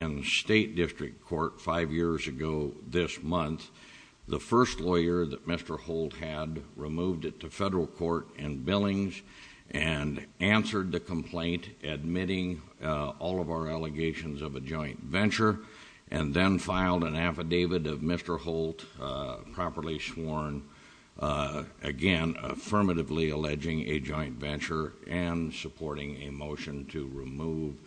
In the State District Court five years ago this month, the first lawyer that Mr. Holt had removed it to federal court in billings and answered the complaint, admitting all of our allegations of a joint venture, and then filed an affidavit of Mr. Holt properly sworn, again affirmatively alleging a joint venture and supporting a motion to remove it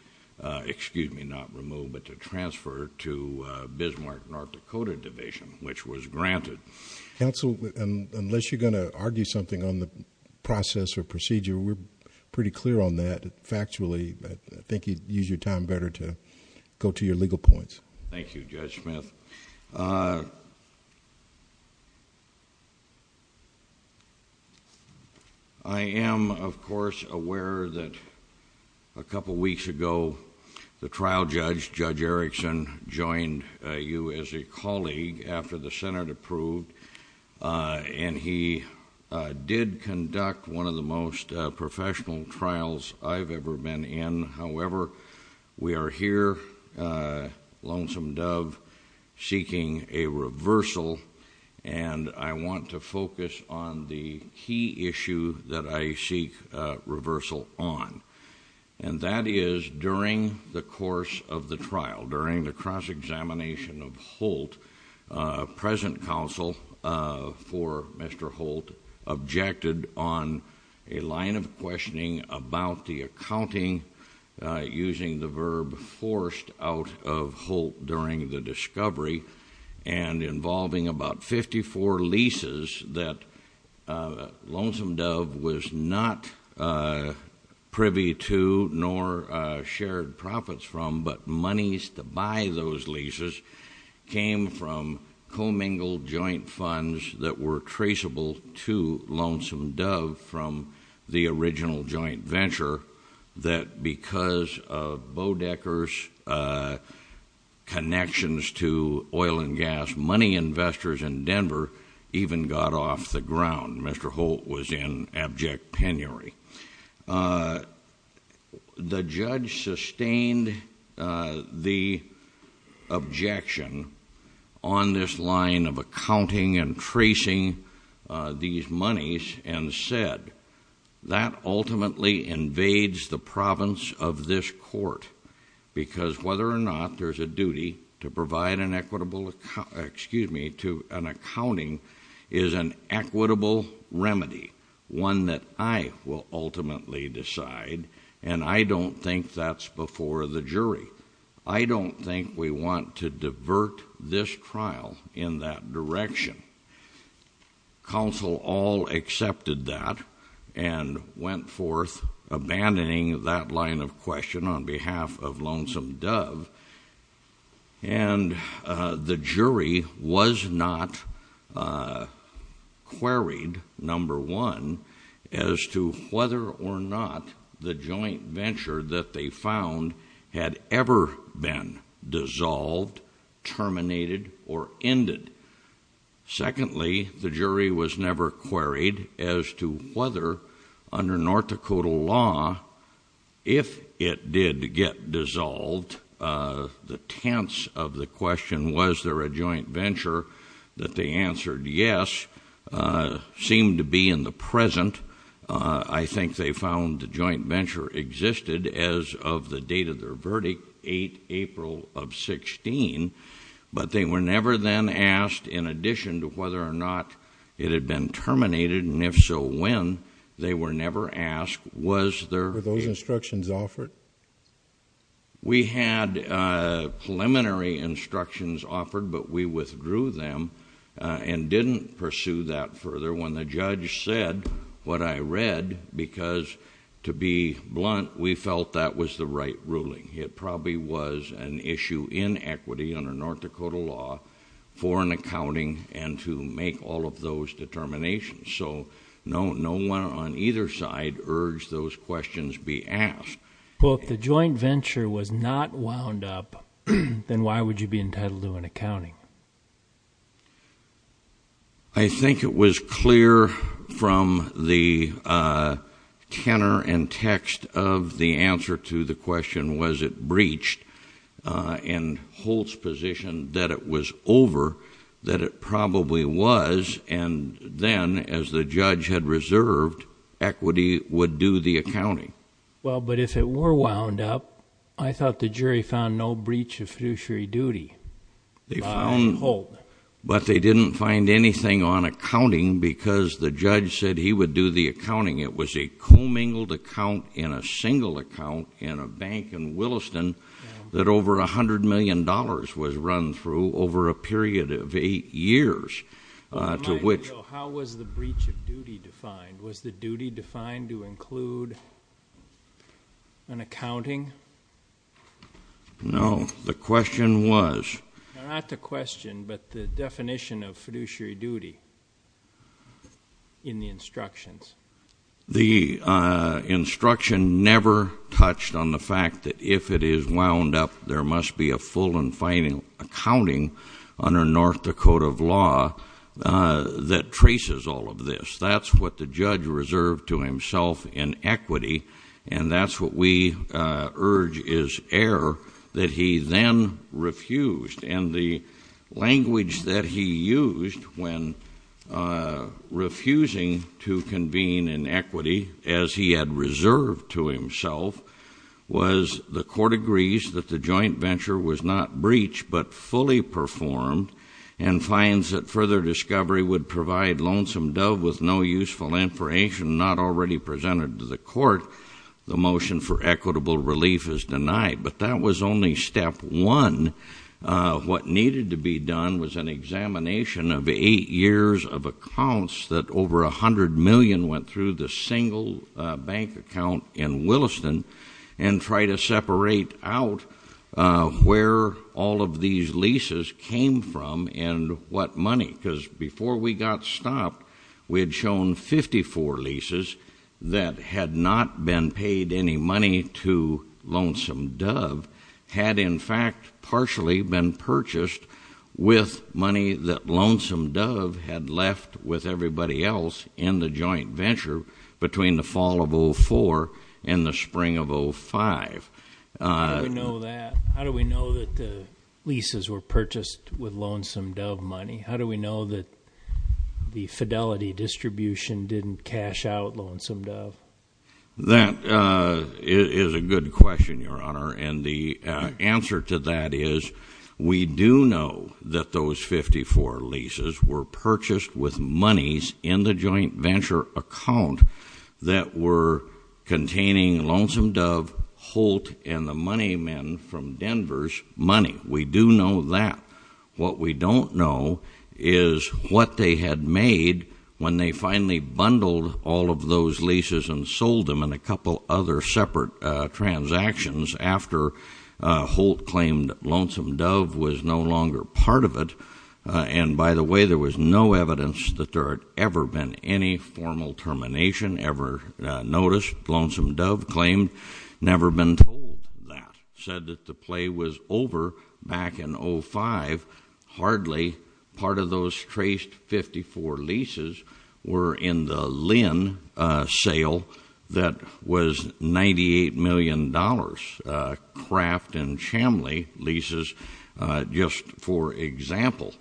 to, excuse me, not remove, but to transfer to Bismarck, North Dakota Division, which was granted. Judge Smith Counsel, unless you're going to argue something on the process or procedure, we're pretty clear on that factually, but I think you'd use your time better to go to your legal points. Justice Breyer Thank you, Judge Smith. I am, of course, aware that a couple of weeks ago the trial judge, Judge Erickson, joined you as a colleague after the Senate approved, and he did conduct one of the most professional trials I've ever been in. However, we are here, lonesome dove, seeking a reversal, and I want to focus on the key issue that I seek reversal on, and that is during the course of the trial, during the cross-examination of Holt, present counsel for Mr. Holt objected on a line of questioning about the accounting, using the verb forced out of Holt during the discovery, and involving about 54 leases that lonesome dove was not privy to nor shared profits from, but monies to buy those leases came from commingled joint funds that were traceable to lonesome dove from the original joint venture that, because of Bodecker's connections to oil and gas money investors in Denver, even got off the ground. Mr. Holt was in abject penury. The judge sustained the objection on this line of accounting and tracing these monies and said, that ultimately invades the province of this court, because whether or not there's a duty to provide an equitable, excuse me, to an accounting is an equitable remedy, one that I will ultimately decide, and I don't think that's before the jury. I don't think we want to divert this trial in that direction. Counsel all accepted that and went forth abandoning that line of question on behalf of lonesome dove, and the jury was not queried, number one, as to whether or not the joint venture that they found had ever been dissolved, terminated, or ended. Secondly, the jury was never queried as to whether, under North Dakota law, if it did get dissolved, the tense of the question, was there a joint venture, that they answered yes, seemed to be in the present. I think they found the joint venture existed as of the date of their verdict, 8 April of 16, but they were never then asked, in addition to whether or not it had been terminated, and if so, when, they were never asked, was there... Were those instructions offered? We had preliminary instructions offered, but we withdrew them and didn't pursue that further when the judge said what I read because, to be blunt, we felt that was the right ruling. It probably was an issue in equity under North Dakota law for an accounting and to make all of those determinations, so no one on either side urged those questions be asked. Well, if the joint venture was not wound up, then why would you be entitled to an accounting? I think it was clear from the tenor and text of the answer to the question, was it breached, and Holt's position that it was over, that it probably was, and then, as the judge had reserved, equity would do the accounting. Well, but if it were wound up, I thought the jury found no breach of fiduciary duty. They found... By Holt. But they didn't find anything on accounting because the judge said he would do the accounting. It was a commingled account in a single account in a bank in Williston that over a hundred million dollars was run through over a period of eight years to which... How was the breach of duty defined? Was the duty defined to include an accounting? No. The question was... Not the question, but the definition of fiduciary duty in the instructions. The instruction never touched on the fact that if it is wound up, there must be a full and final accounting under North Dakota law that traces all of this. That's what the judge reserved to himself in equity, and that's what we urge is err that he then refused, and the language that he used when refusing to convene in equity as he had reserved to himself was the court agrees that the joint venture was not breached but fully performed and finds that further discovery would provide Lonesome Dove with no useful information not already presented to the court, the motion for equitable relief is denied. But that was only step one. What needed to be done was an examination of eight years of accounts that over a hundred million went through the single bank account in Williston and try to separate out where all of these leases came from and what money, because before we got stopped, we had shown 54 leases that had not been paid any money to Lonesome Dove had in fact partially been purchased with money that Lonesome Dove had left with everybody else in the joint venture between the fall of 04 and the spring of 05. How do we know that? How do we know that the leases were purchased with Lonesome Dove money? How do we know that the Fidelity distribution didn't cash out Lonesome Dove? That is a good question, Your Honor, and the answer to that is we do know that those 54 leases were purchased with monies in the joint venture account that were containing Lonesome Dove, Holt, and the money men from Denver's money. We do know that. What we don't know is what they had made when they finally bundled all of those leases and sold them in a couple other separate transactions after Holt claimed Lonesome Dove was no longer part of it. And by the way, there was no evidence that there had ever been any formal termination ever noticed. Lonesome Dove claimed never been told that, said that the play was over back in 05. Hardly part of those traced 54 leases were in the Lynn sale that was $98 million, Kraft and Chamley leases, just for example.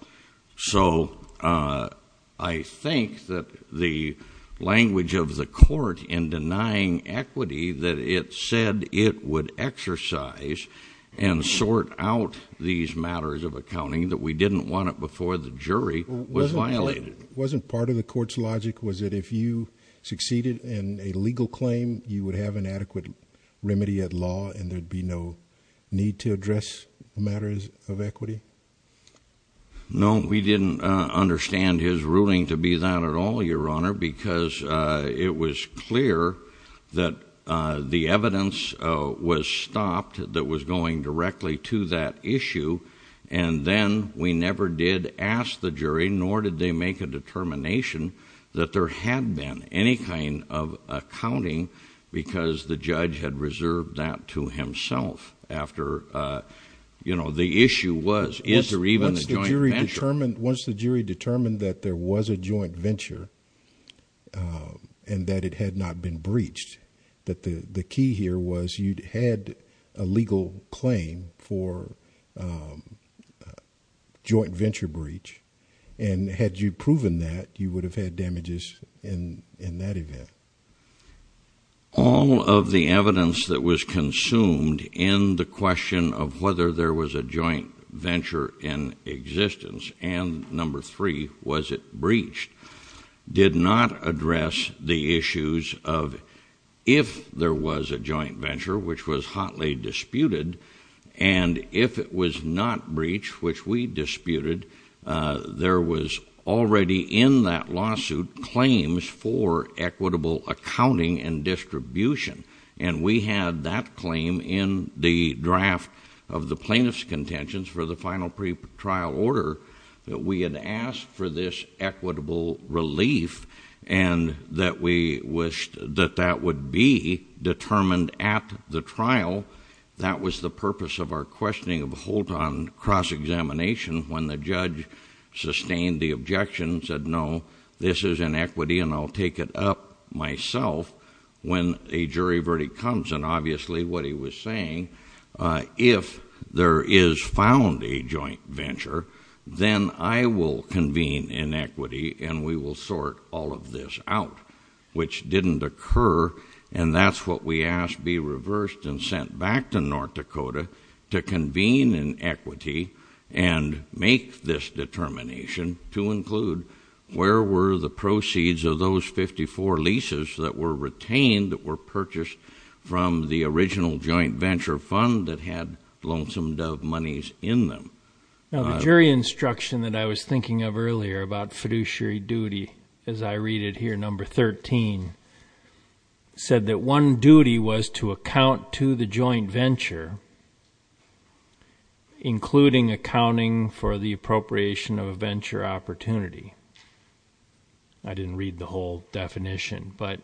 So I think that the language of the court in denying equity that it said it would exercise and sort out these matters of accounting that we didn't want it before the jury was violated. Wasn't part of the court's logic was that if you succeeded in a legal claim, you would have an adequate remedy at law and there'd be no need to address matters of equity? No, we didn't understand his ruling to be that at all, Your Honor, because it was clear that the evidence was stopped that was going directly to that issue. And then we never did ask the jury, nor did they make a determination that there had been any kind of accounting because the judge had reserved that to himself after, you know, the issue was, is there even a joint venture? Once the jury determined that there was a joint venture and that it had not been breached, that the key here was you'd had a legal claim for a joint venture breach. And had you proven that, you would have had damages in that event. All of the evidence that was consumed in the question of whether there was a joint venture in existence and number three, was it breached, did not address the issues of if there was a joint venture, which was hotly disputed, and if it was not breached, which we disputed, there was already in that lawsuit claims for equitable accounting and distribution. And we had that claim in the draft of the plaintiff's contentions for the final pre-trial order that we had asked for this equitable relief. And that we wished that that would be determined at the trial. That was the purpose of our questioning of Holt on cross-examination when the judge sustained the objection, said no, this is inequity and I'll take it up myself when a jury verdict comes. And obviously what he was saying, if there is found a joint venture, then I will convene inequity and we will sort all of this out, which didn't occur. And that's what we asked be reversed and sent back to North Dakota to convene in equity and make this determination to include where were the proceeds of those 54 leases that were retained, that were purchased from the original joint venture fund that had lonesome dove monies in them. Now the jury instruction that I was thinking of earlier about fiduciary duty, as I read it here, number 13, said that one duty was to account to the joint venture, including accounting for the appropriation of a venture opportunity. I didn't read the whole definition, but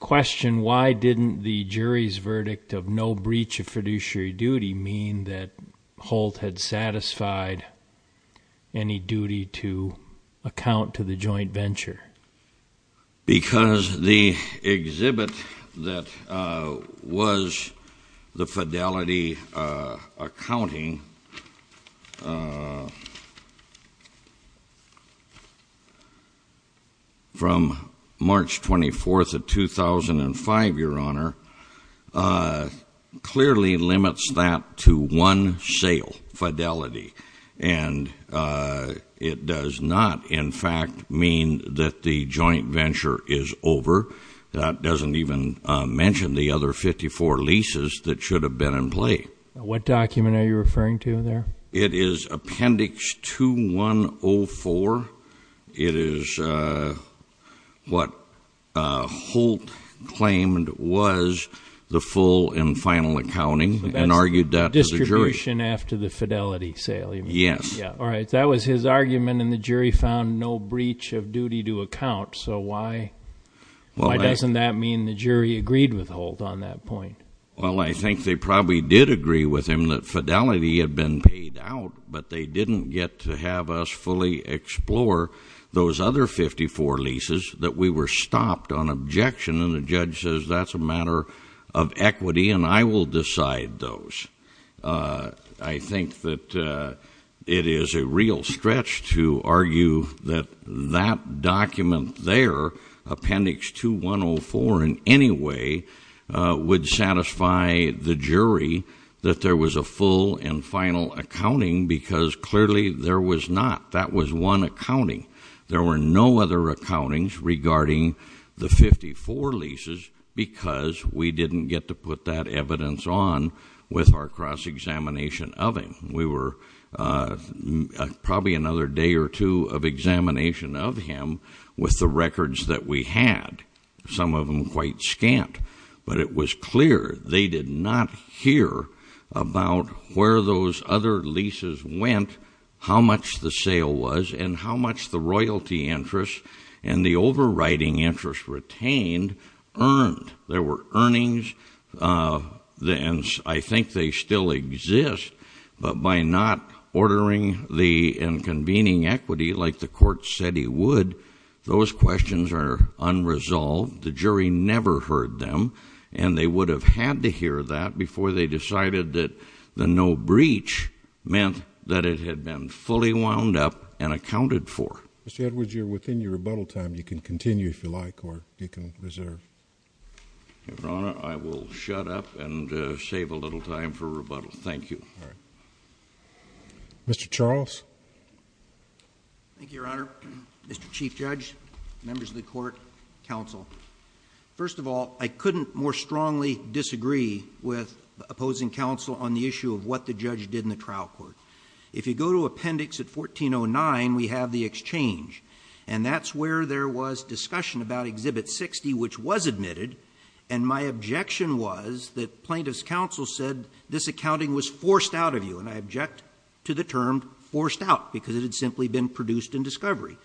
question why didn't the jury's verdict of no breach of fiduciary duty mean that Holt had satisfied any duty to account to the joint venture? Because the exhibit that was the fidelity accounting from March 24th of 2005, your honor, clearly limits that to one sale, fidelity. And it does not, in fact, mean that the joint venture is over. That doesn't even mention the other 54 leases that should have been in play. What document are you referring to there? It is appendix 2104. It is what Holt claimed was the full and final accounting, and argued that to the jury. That's distribution after the fidelity sale, you mean? Yes. All right, that was his argument, and the jury found no breach of duty to account. So why doesn't that mean the jury agreed with Holt on that point? Well, I think they probably did agree with him that fidelity had been paid out, but they didn't get to have us fully explore those other 54 leases that we were stopped on objection, and the judge says that's a matter of equity, and I will decide those. I think that it is a real stretch to argue that that document there, appendix 2104 in any way, would satisfy the jury that there was a full and final accounting, because clearly there was not. That was one accounting. There were no other accountings regarding the 54 leases, because we didn't get to put that evidence on with our cross-examination of him. We were probably another day or two of examination of him with the records that we had. Some of them quite scant, but it was clear they did not hear about where those other leases went, how much the sale was, and how much the royalty interest and the overriding interest retained earned. There were earnings, and I think they still exist, but by not ordering the and convening equity like the court said he would, those questions are unresolved. The jury never heard them, and they would have had to hear that before they decided that the no breach meant that it had been fully wound up and accounted for. Mr. Edwards, you're within your rebuttal time. You can continue if you like, or you can reserve. Your Honor, I will shut up and save a little time for rebuttal. Thank you. Mr. Charles. Thank you, Your Honor. Mr. Chief Judge, members of the court, counsel. First of all, I couldn't more strongly disagree with opposing counsel on the issue of what the judge did in the trial court. If you go to appendix at 1409, we have the exchange, and that's where there was discussion about exhibit 60, which was admitted. And my objection was that plaintiff's counsel said this accounting was forced out of you. And I object to the term forced out, because it had simply been produced in discovery.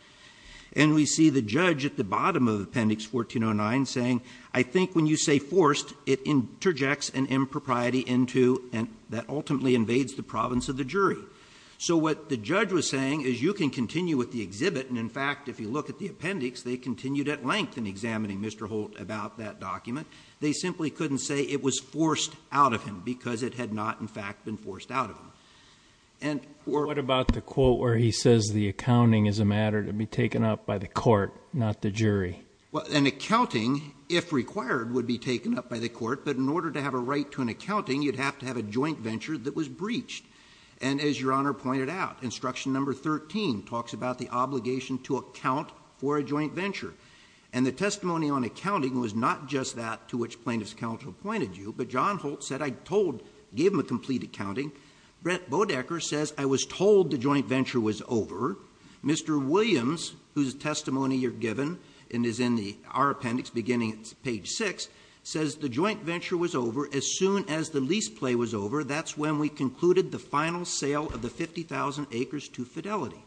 And we see the judge at the bottom of appendix 1409 saying, I think when you say forced, it interjects an impropriety that ultimately invades the province of the jury. So what the judge was saying is you can continue with the exhibit, and in fact, if you look at the appendix, they continued at length in examining Mr. Holt about that document. They simply couldn't say it was forced out of him, because it had not, in fact, been forced out of him. And- What about the quote where he says the accounting is a matter to be taken up by the court, not the jury? Well, an accounting, if required, would be taken up by the court. But in order to have a right to an accounting, you'd have to have a joint venture that was breached. And as Your Honor pointed out, instruction number 13 talks about the obligation to account for a joint venture. And the testimony on accounting was not just that to which plaintiff's counsel pointed you, but John Holt said, I gave him a complete accounting. Brett Bodecker says, I was told the joint venture was over. Mr. Williams, whose testimony you're given, and is in our appendix beginning at page six, says the joint venture was over as soon as the lease play was over. That's when we concluded the final sale of the 50,000 acres to Fidelity.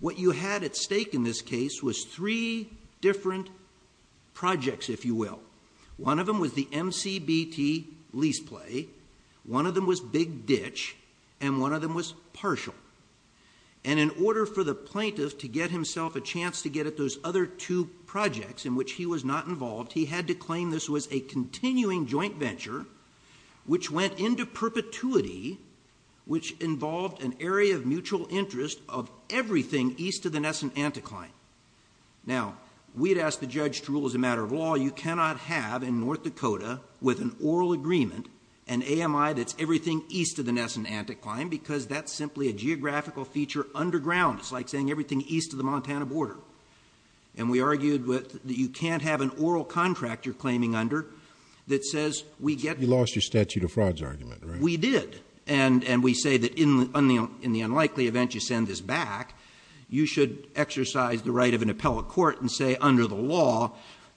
What you had at stake in this case was three different projects, if you will. One of them was the MCBT lease play, one of them was big ditch, and one of them was partial. And in order for the plaintiff to get himself a chance to get at those other two projects in which he was not involved, he had to claim this was a continuing joint venture, which went into perpetuity, which involved an area of mutual interest of everything east of the Nesson Anticline. Now, we'd asked the judge to rule as a matter of law, you cannot have in North Dakota with an oral agreement, an AMI that's everything east of the Nesson Anticline, because that's simply a geographical feature underground. It's like saying everything east of the Montana border. And we argued that you can't have an oral contract you're claiming under that says we get- You lost your statute of frauds argument, right? And we did, and we say that in the unlikely event you send this back, you should exercise the right of an appellate court and say under the law,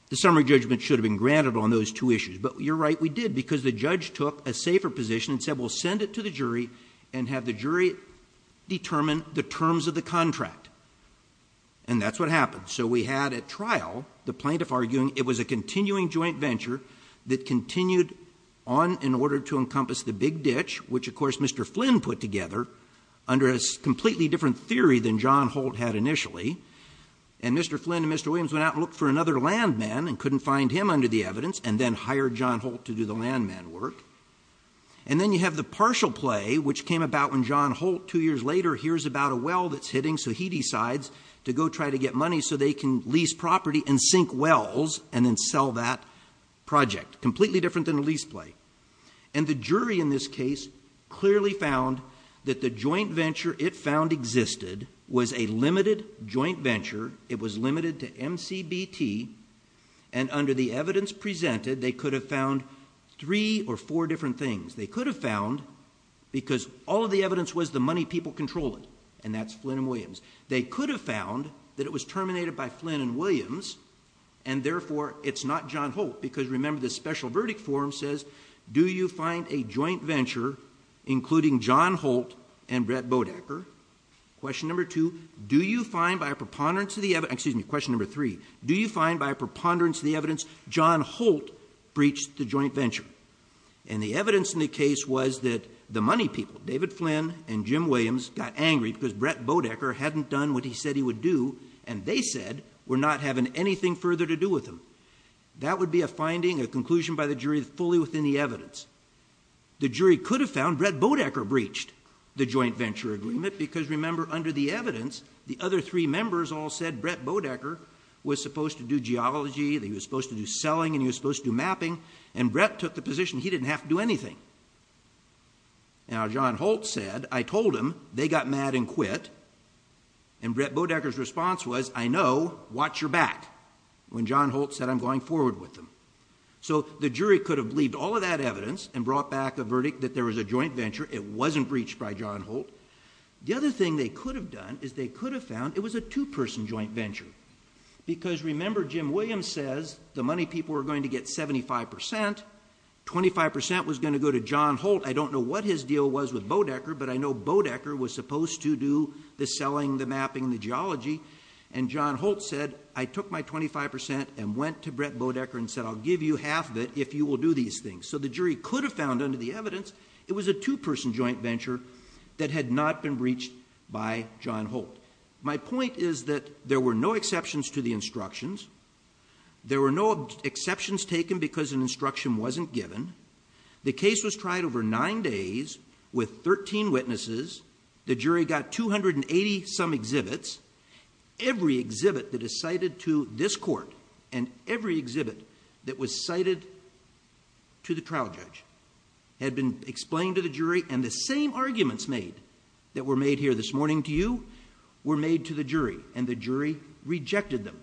the summary judgment should have been granted on those two issues. But you're right, we did, because the judge took a safer position and said we'll send it to the jury and have the jury determine the terms of the contract, and that's what happened. So we had at trial the plaintiff arguing it was a continuing joint venture that continued on in order to encompass the big ditch, which of course Mr. Flynn put together under a completely different theory than John Holt had initially. And Mr. Flynn and Mr. Williams went out and looked for another land man and couldn't find him under the evidence, and then hired John Holt to do the land man work. And then you have the partial play, which came about when John Holt, two years later, hears about a well that's hitting, so he decides to go try to get money so they can lease property and sink wells and then sell that project. Completely different than a lease play. And the jury in this case clearly found that the joint venture it found existed was a limited joint venture. It was limited to MCBT, and under the evidence presented, they could have found three or four different things. They could have found, because all of the evidence was the money people control it, and that's Flynn and Williams. They could have found that it was terminated by Flynn and Williams, and therefore it's not John Holt. Because remember, the special verdict form says, do you find a joint venture including John Holt and Brett Bodecker? Question number two, do you find by a preponderance of the, excuse me, question number three, do you find by a preponderance of the evidence John Holt breached the joint venture? And the evidence in the case was that the money people, David Flynn and Jim Williams, got angry because Brett Bodecker hadn't done what he said he would do, and they said, we're not having anything further to do with him. That would be a finding, a conclusion by the jury fully within the evidence. The jury could have found Brett Bodecker breached the joint venture agreement, because remember, under the evidence, the other three members all said Brett Bodecker was supposed to do geology, that he was supposed to do selling, and he was supposed to do mapping, and Brett took the position he didn't have to do anything. Now John Holt said, I told him, they got mad and quit, and Brett Bodecker's response was, I know, watch your back. When John Holt said, I'm going forward with them. So the jury could have believed all of that evidence and brought back a verdict that there was a joint venture, it wasn't breached by John Holt. The other thing they could have done is they could have found it was a two person joint venture. Because remember, Jim Williams says, the money people are going to get 75%, 25% was going to go to John Holt. I don't know what his deal was with Bodecker, but I know Bodecker was supposed to do the selling, the mapping, the geology. And John Holt said, I took my 25% and went to Brett Bodecker and said, I'll give you half of it if you will do these things. So the jury could have found, under the evidence, it was a two person joint venture that had not been breached by John Holt. My point is that there were no exceptions to the instructions. There were no exceptions taken because an instruction wasn't given. The case was tried over nine days with 13 witnesses. The jury got 280 some exhibits. Every exhibit that is cited to this court and every exhibit that was cited to the trial judge had been explained to the jury. And the same arguments made that were made here this morning to you were made to the jury, and the jury rejected them.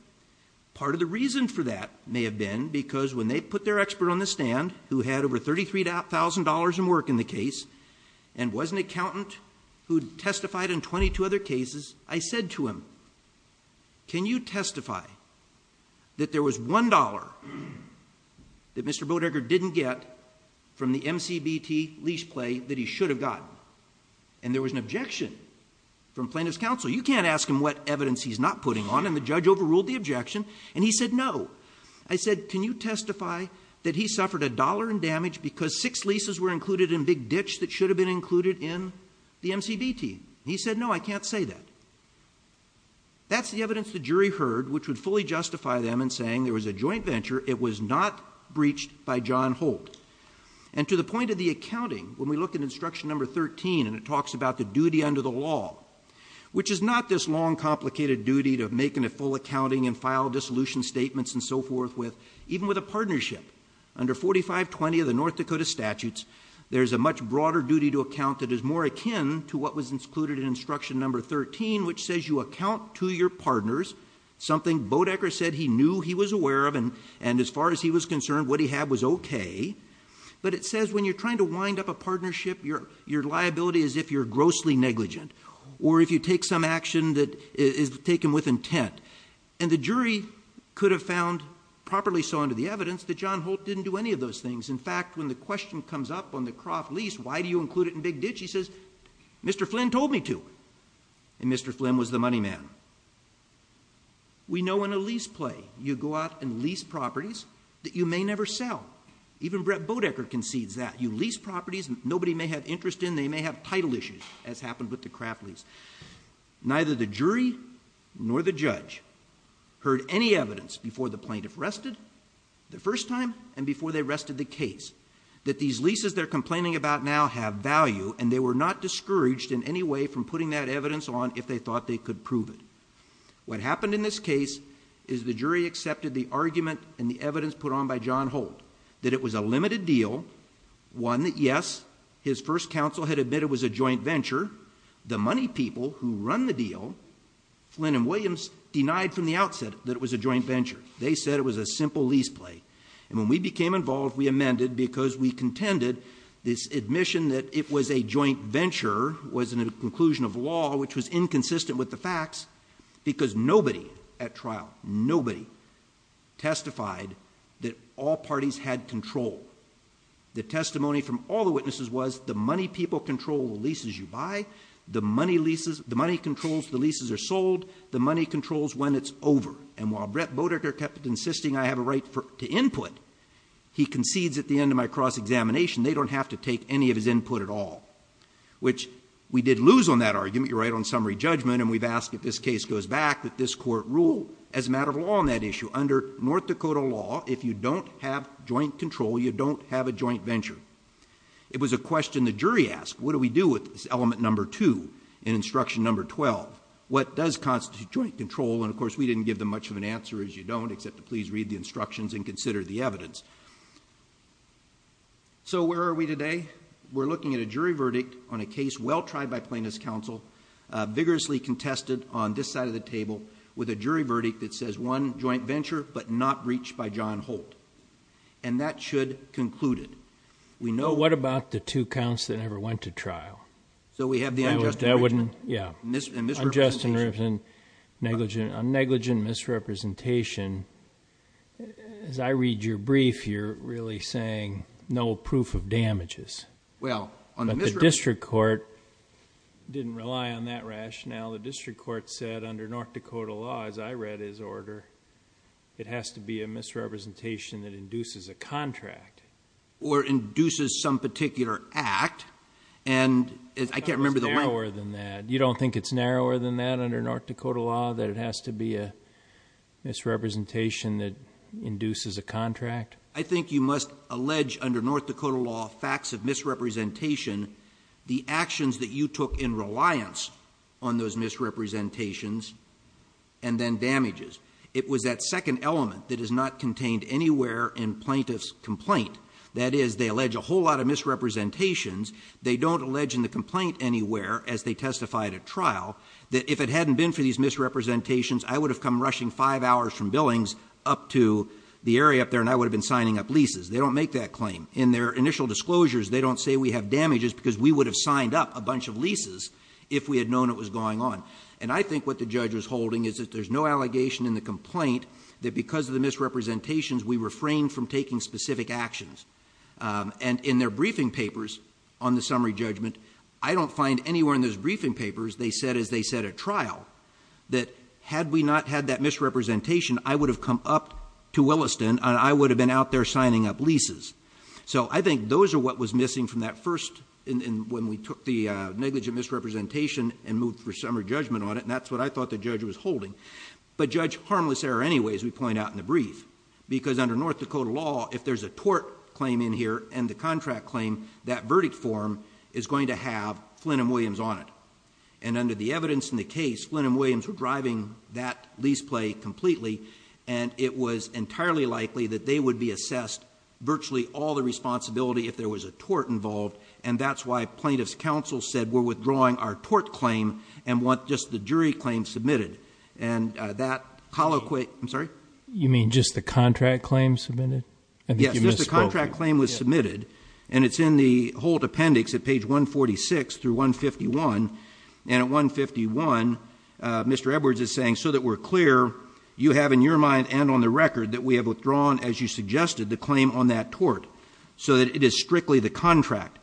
Part of the reason for that may have been because when they put their expert on the stand who had over $33,000 in work in the case, and was an accountant who testified in 22 other cases, I said to him, can you testify that there was $1 that Mr. Bodecker didn't get from the MCBT lease play that he should have gotten? And there was an objection from plaintiff's counsel. You can't ask him what evidence he's not putting on, and the judge overruled the objection, and he said no. I said, can you testify that he suffered $1 in damage because six leases were included in big ditch that should have been included in the MCBT? He said, no, I can't say that. That's the evidence the jury heard, which would fully justify them in saying there was a joint venture. It was not breached by John Holt. And to the point of the accounting, when we look at instruction number 13, and it talks about the duty under the law, which is not this long, complicated duty to making a full accounting and file dissolution statements and so forth, even with a partnership. Under 4520 of the North Dakota statutes, there's a much broader duty to account that is more akin to what was included in instruction number 13, which says you account to your partners something Bodecker said he knew he was aware of, and as far as he was concerned, what he had was okay. But it says when you're trying to wind up a partnership, your liability is if you're grossly negligent, or if you take some action that is taken with intent. And the jury could have found, properly so under the evidence, that John Holt didn't do any of those things. In fact, when the question comes up on the Croft lease, why do you include it in big ditch? He says, Mr. Flynn told me to, and Mr. Flynn was the money man. We know in a lease play, you go out and lease properties that you may never sell. Even Brett Bodecker concedes that. You lease properties nobody may have interest in, they may have title issues, as happened with the Croft lease. Neither the jury nor the judge heard any evidence before the plaintiff rested the first time and before they rested the case that these leases they're complaining about now have value and they were not discouraged in any way from putting that evidence on if they thought they could prove it. What happened in this case is the jury accepted the argument and the evidence put on by John Holt. That it was a limited deal, one that yes, his first counsel had admitted was a joint venture. The money people who run the deal, Flynn and Williams, denied from the outset that it was a joint venture. They said it was a simple lease play. And when we became involved, we amended because we contended this admission that it was a joint venture, was in a conclusion of law which was inconsistent with the facts because nobody at trial, nobody testified that all parties had control. The testimony from all the witnesses was the money people control the leases you buy, the money controls the leases are sold, the money controls when it's over. And while Brett Bodecker kept insisting I have a right to input, he concedes at the end of my cross-examination, they don't have to take any of his input at all, which we did lose on that argument. You're right on summary judgment, and we've asked if this case goes back, that this court rule as a matter of law on that issue. Under North Dakota law, if you don't have joint control, you don't have a joint venture. It was a question the jury asked, what do we do with this element number two in instruction number 12? What does constitute joint control? And of course, we didn't give them much of an answer as you don't, except to please read the instructions and consider the evidence. So where are we today? We're looking at a jury verdict on a case well tried by plaintiff's counsel, vigorously contested on this side of the table, with a jury verdict that says one joint venture, but not breached by John Holt. And that should conclude it. We know- What about the two counts that never went to trial? So we have the unjust and negligent misrepresentation. As I read your brief, you're really saying no proof of damages. But the district court didn't rely on that rationale. The district court said under North Dakota law, as I read his order, it has to be a misrepresentation that induces a contract. Or induces some particular act. And I can't remember the- Narrower than that. You don't think it's narrower than that under North Dakota law, that it has to be a misrepresentation that induces a contract? I think you must allege under North Dakota law facts of misrepresentation, the actions that you took in reliance on those misrepresentations and then damages. It was that second element that is not contained anywhere in plaintiff's complaint. That is, they allege a whole lot of misrepresentations. They don't allege in the complaint anywhere, as they testified at trial, that if it hadn't been for these misrepresentations, I would have come rushing five hours from Billings up to the area up there and I would have been signing up leases. They don't make that claim. In their initial disclosures, they don't say we have damages because we would have signed up a bunch of leases if we had known it was going on. And I think what the judge was holding is that there's no allegation in the complaint that because of the misrepresentations, we refrained from taking specific actions. And in their briefing papers on the summary judgment, I don't find anywhere in those briefing papers, they said, as they said at trial, that had we not had that misrepresentation, I would have come up to Williston and I would have been out there signing up leases. So I think those are what was missing from that first, when we took the negligent misrepresentation and moved for summary judgment on it, and that's what I thought the judge was holding, but judge harmless error anyway, as we point out in the brief. Because under North Dakota law, if there's a tort claim in here and the contract claim, that verdict form is going to have Flynn and Williams on it. And under the evidence in the case, Flynn and Williams were driving that lease play completely and it was entirely likely that they would be assessed virtually all the responsibility if there was a tort involved. And that's why plaintiff's counsel said we're withdrawing our tort claim and want just the jury claim submitted. And that colloquy, I'm sorry? You mean just the contract claim submitted? Yes, just the contract claim was submitted. And it's in the whole appendix at page 146 through 151. And at 151, Mr. Edwards is saying, so that we're clear, you have in your mind and on the record that we have withdrawn, as you suggested, the claim on that tort, so that it is strictly the contract.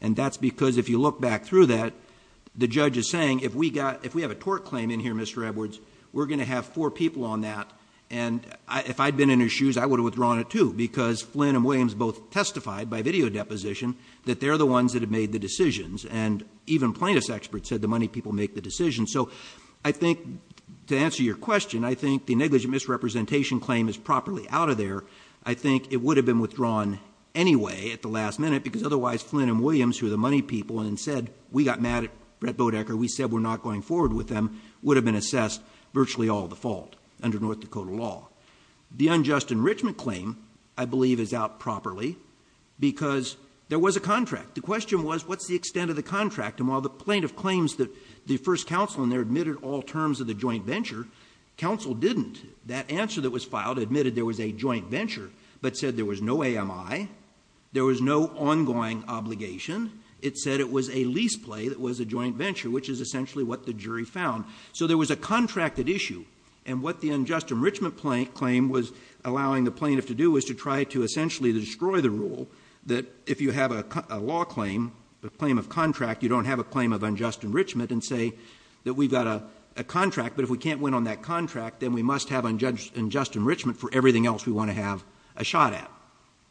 And that's because if you look back through that, the judge is saying, if we have a tort claim in here, Mr. Edwards, we're going to have four people on that, and if I'd been in his shoes, I would have withdrawn it too. Because Flynn and Williams both testified by video deposition that they're the ones that have made the decisions. And even plaintiff's experts said the money people make the decisions. So I think, to answer your question, I think the negligent misrepresentation claim is properly out of there. I think it would have been withdrawn anyway at the last minute, because otherwise Flynn and Williams, who are the money people, and said, we got mad at Brett Bodecker, we said we're not going forward with them, would have been assessed virtually all the fault under North Dakota law. The unjust enrichment claim, I believe, is out properly, because there was a contract. The question was, what's the extent of the contract? And while the plaintiff claims that the first counsel in there admitted all terms of the joint venture, counsel didn't, that answer that was filed admitted there was a joint venture, but said there was no AMI. There was no ongoing obligation. It said it was a lease play that was a joint venture, which is essentially what the jury found. So there was a contracted issue, and what the unjust enrichment claim was allowing the plaintiff to do is to try to essentially destroy the rule. That if you have a law claim, a claim of contract, you don't have a claim of unjust enrichment and say that we've got a contract. But if we can't win on that contract, then we must have unjust enrichment for everything else we want to have a shot at.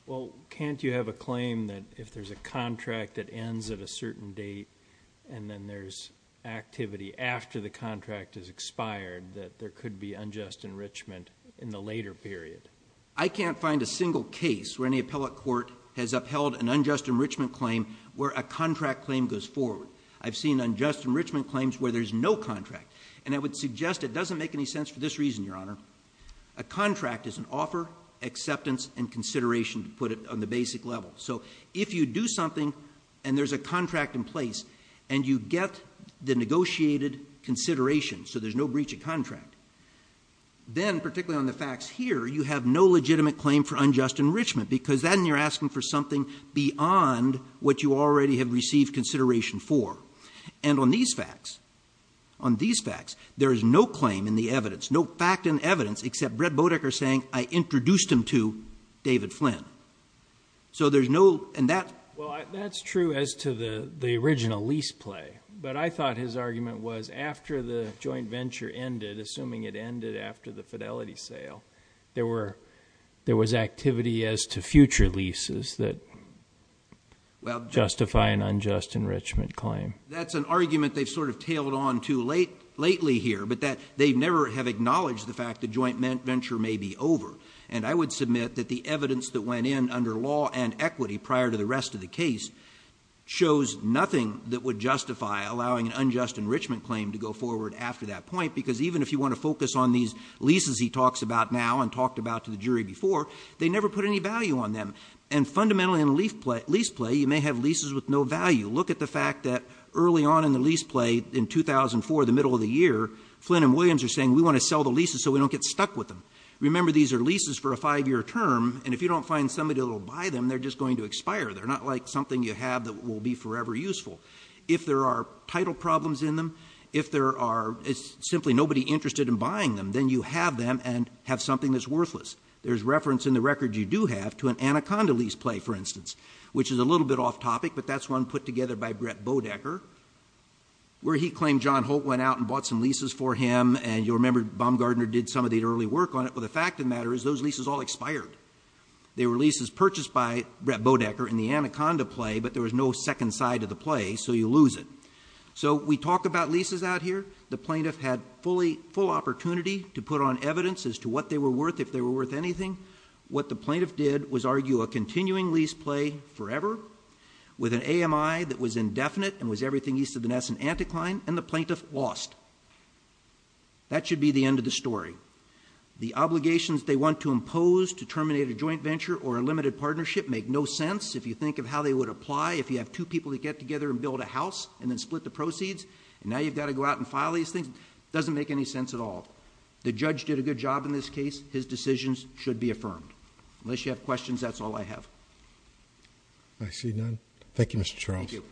Well, can't you have a claim that if there's a contract that ends at a certain date, and then there's activity after the contract has expired, that there could be unjust enrichment in the later period? I can't find a single case where any appellate court has upheld an unjust enrichment claim where a contract claim goes forward. I've seen unjust enrichment claims where there's no contract, and I would suggest it doesn't make any sense for this reason, Your Honor. A contract is an offer, acceptance, and consideration, to put it on the basic level. So if you do something, and there's a contract in place, and you get the negotiated consideration, so there's no breach of contract. Then, particularly on the facts here, you have no legitimate claim for unjust enrichment, because then you're asking for something beyond what you already have received consideration for. And on these facts, there is no claim in the evidence, no fact in evidence, except Brett Bodecker saying, I introduced him to David Flynn. So there's no, and that- Well, that's true as to the original lease play. But I thought his argument was after the joint venture ended, assuming it ended after the fidelity sale, there was activity as to future leases that justify an unjust enrichment claim. That's an argument they've sort of tailed on to lately here, but that they never have acknowledged the fact the joint venture may be over. And I would submit that the evidence that went in under law and equity prior to the rest of the case shows nothing that would justify allowing an unjust enrichment claim to go forward after that point. Because even if you want to focus on these leases he talks about now and talked about to the jury before, they never put any value on them. And fundamentally in a lease play, you may have leases with no value. You look at the fact that early on in the lease play in 2004, the middle of the year, Flynn and Williams are saying we want to sell the leases so we don't get stuck with them. Remember these are leases for a five year term, and if you don't find somebody that will buy them, they're just going to expire. They're not like something you have that will be forever useful. If there are title problems in them, if there are simply nobody interested in buying them, then you have them and have something that's worthless. There's reference in the record you do have to an Anaconda lease play, for instance. Which is a little bit off topic, but that's one put together by Brett Bodecker, where he claimed John Holt went out and bought some leases for him. And you'll remember Baumgardner did some of the early work on it, but the fact of the matter is those leases all expired. They were leases purchased by Brett Bodecker in the Anaconda play, but there was no second side of the play, so you lose it. So we talk about leases out here. The plaintiff had full opportunity to put on evidence as to what they were worth, if they were worth anything. What the plaintiff did was argue a continuing lease play forever with an AMI that was indefinite and was everything east of the Ness and Anticline, and the plaintiff lost. That should be the end of the story. The obligations they want to impose to terminate a joint venture or a limited partnership make no sense. If you think of how they would apply, if you have two people that get together and build a house and then split the proceeds, and now you've got to go out and file these things, doesn't make any sense at all. The judge did a good job in this case. His decisions should be affirmed. Unless you have questions, that's all I have. I see none. Thank you, Mr. Charles. Thank you.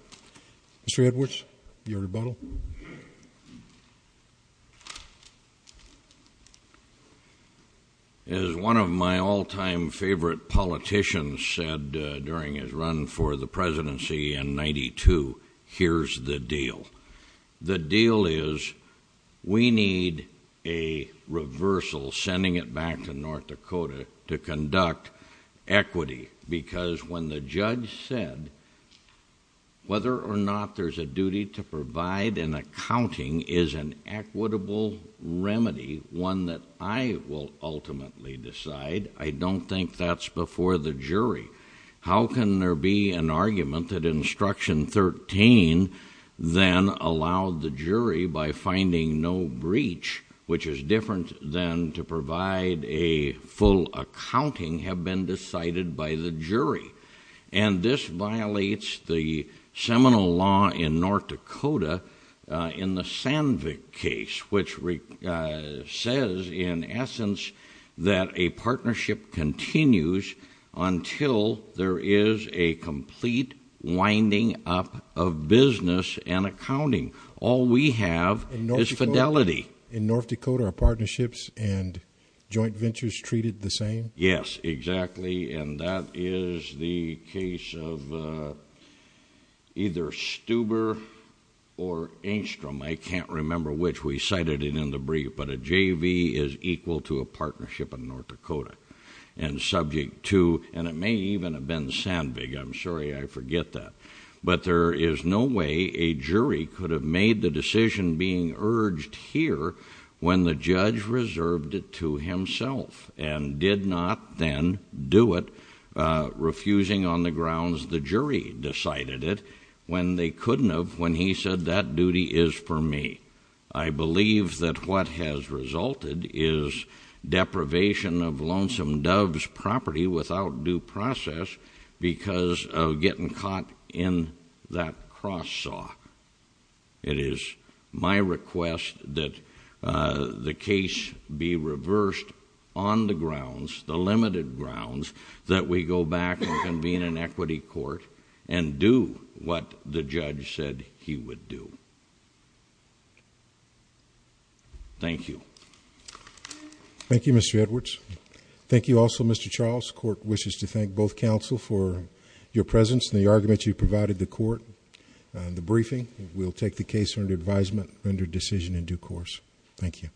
Mr. Edwards, your rebuttal. As one of my all time favorite politicians said during his run for the presidency in 92, here's the deal. The deal is we need a reversal, sending it back to North Dakota to conduct equity. Because when the judge said whether or not there's a duty to provide an accounting is an equitable remedy, one that I will ultimately decide, I don't think that's before the jury. How can there be an argument that instruction 13 then allowed the jury by finding no breach, which is different than to provide a full accounting, have been decided by the jury. And this violates the seminal law in North Dakota in the Sandvik case, which says in essence that a partnership continues until there is a complete winding up of business and accounting. All we have is fidelity. In North Dakota, our partnerships and joint ventures treated the same? Yes, exactly. And that is the case of either Stuber or Engstrom, I can't remember which, we cited it in the brief. But a JV is equal to a partnership in North Dakota. And subject to, and it may even have been Sandvik, I'm sorry I forget that. But there is no way a jury could have made the decision being urged here when the judge reserved it to himself and did not then do it, refusing on the grounds the jury decided it when they couldn't have when he said that duty is for me. I believe that what has resulted is deprivation of lonesome dove's property without due process because of getting caught in that cross saw. It is my request that the case be reversed on the grounds, the limited grounds, that we go back and convene an equity court and do what the judge said he would do. Thank you. Thank you, Mr. Edwards. Thank you also, Mr. Charles. Court wishes to thank both counsel for your presence and the argument you provided the court. The briefing, we'll take the case under advisement under decision in due course. Thank you.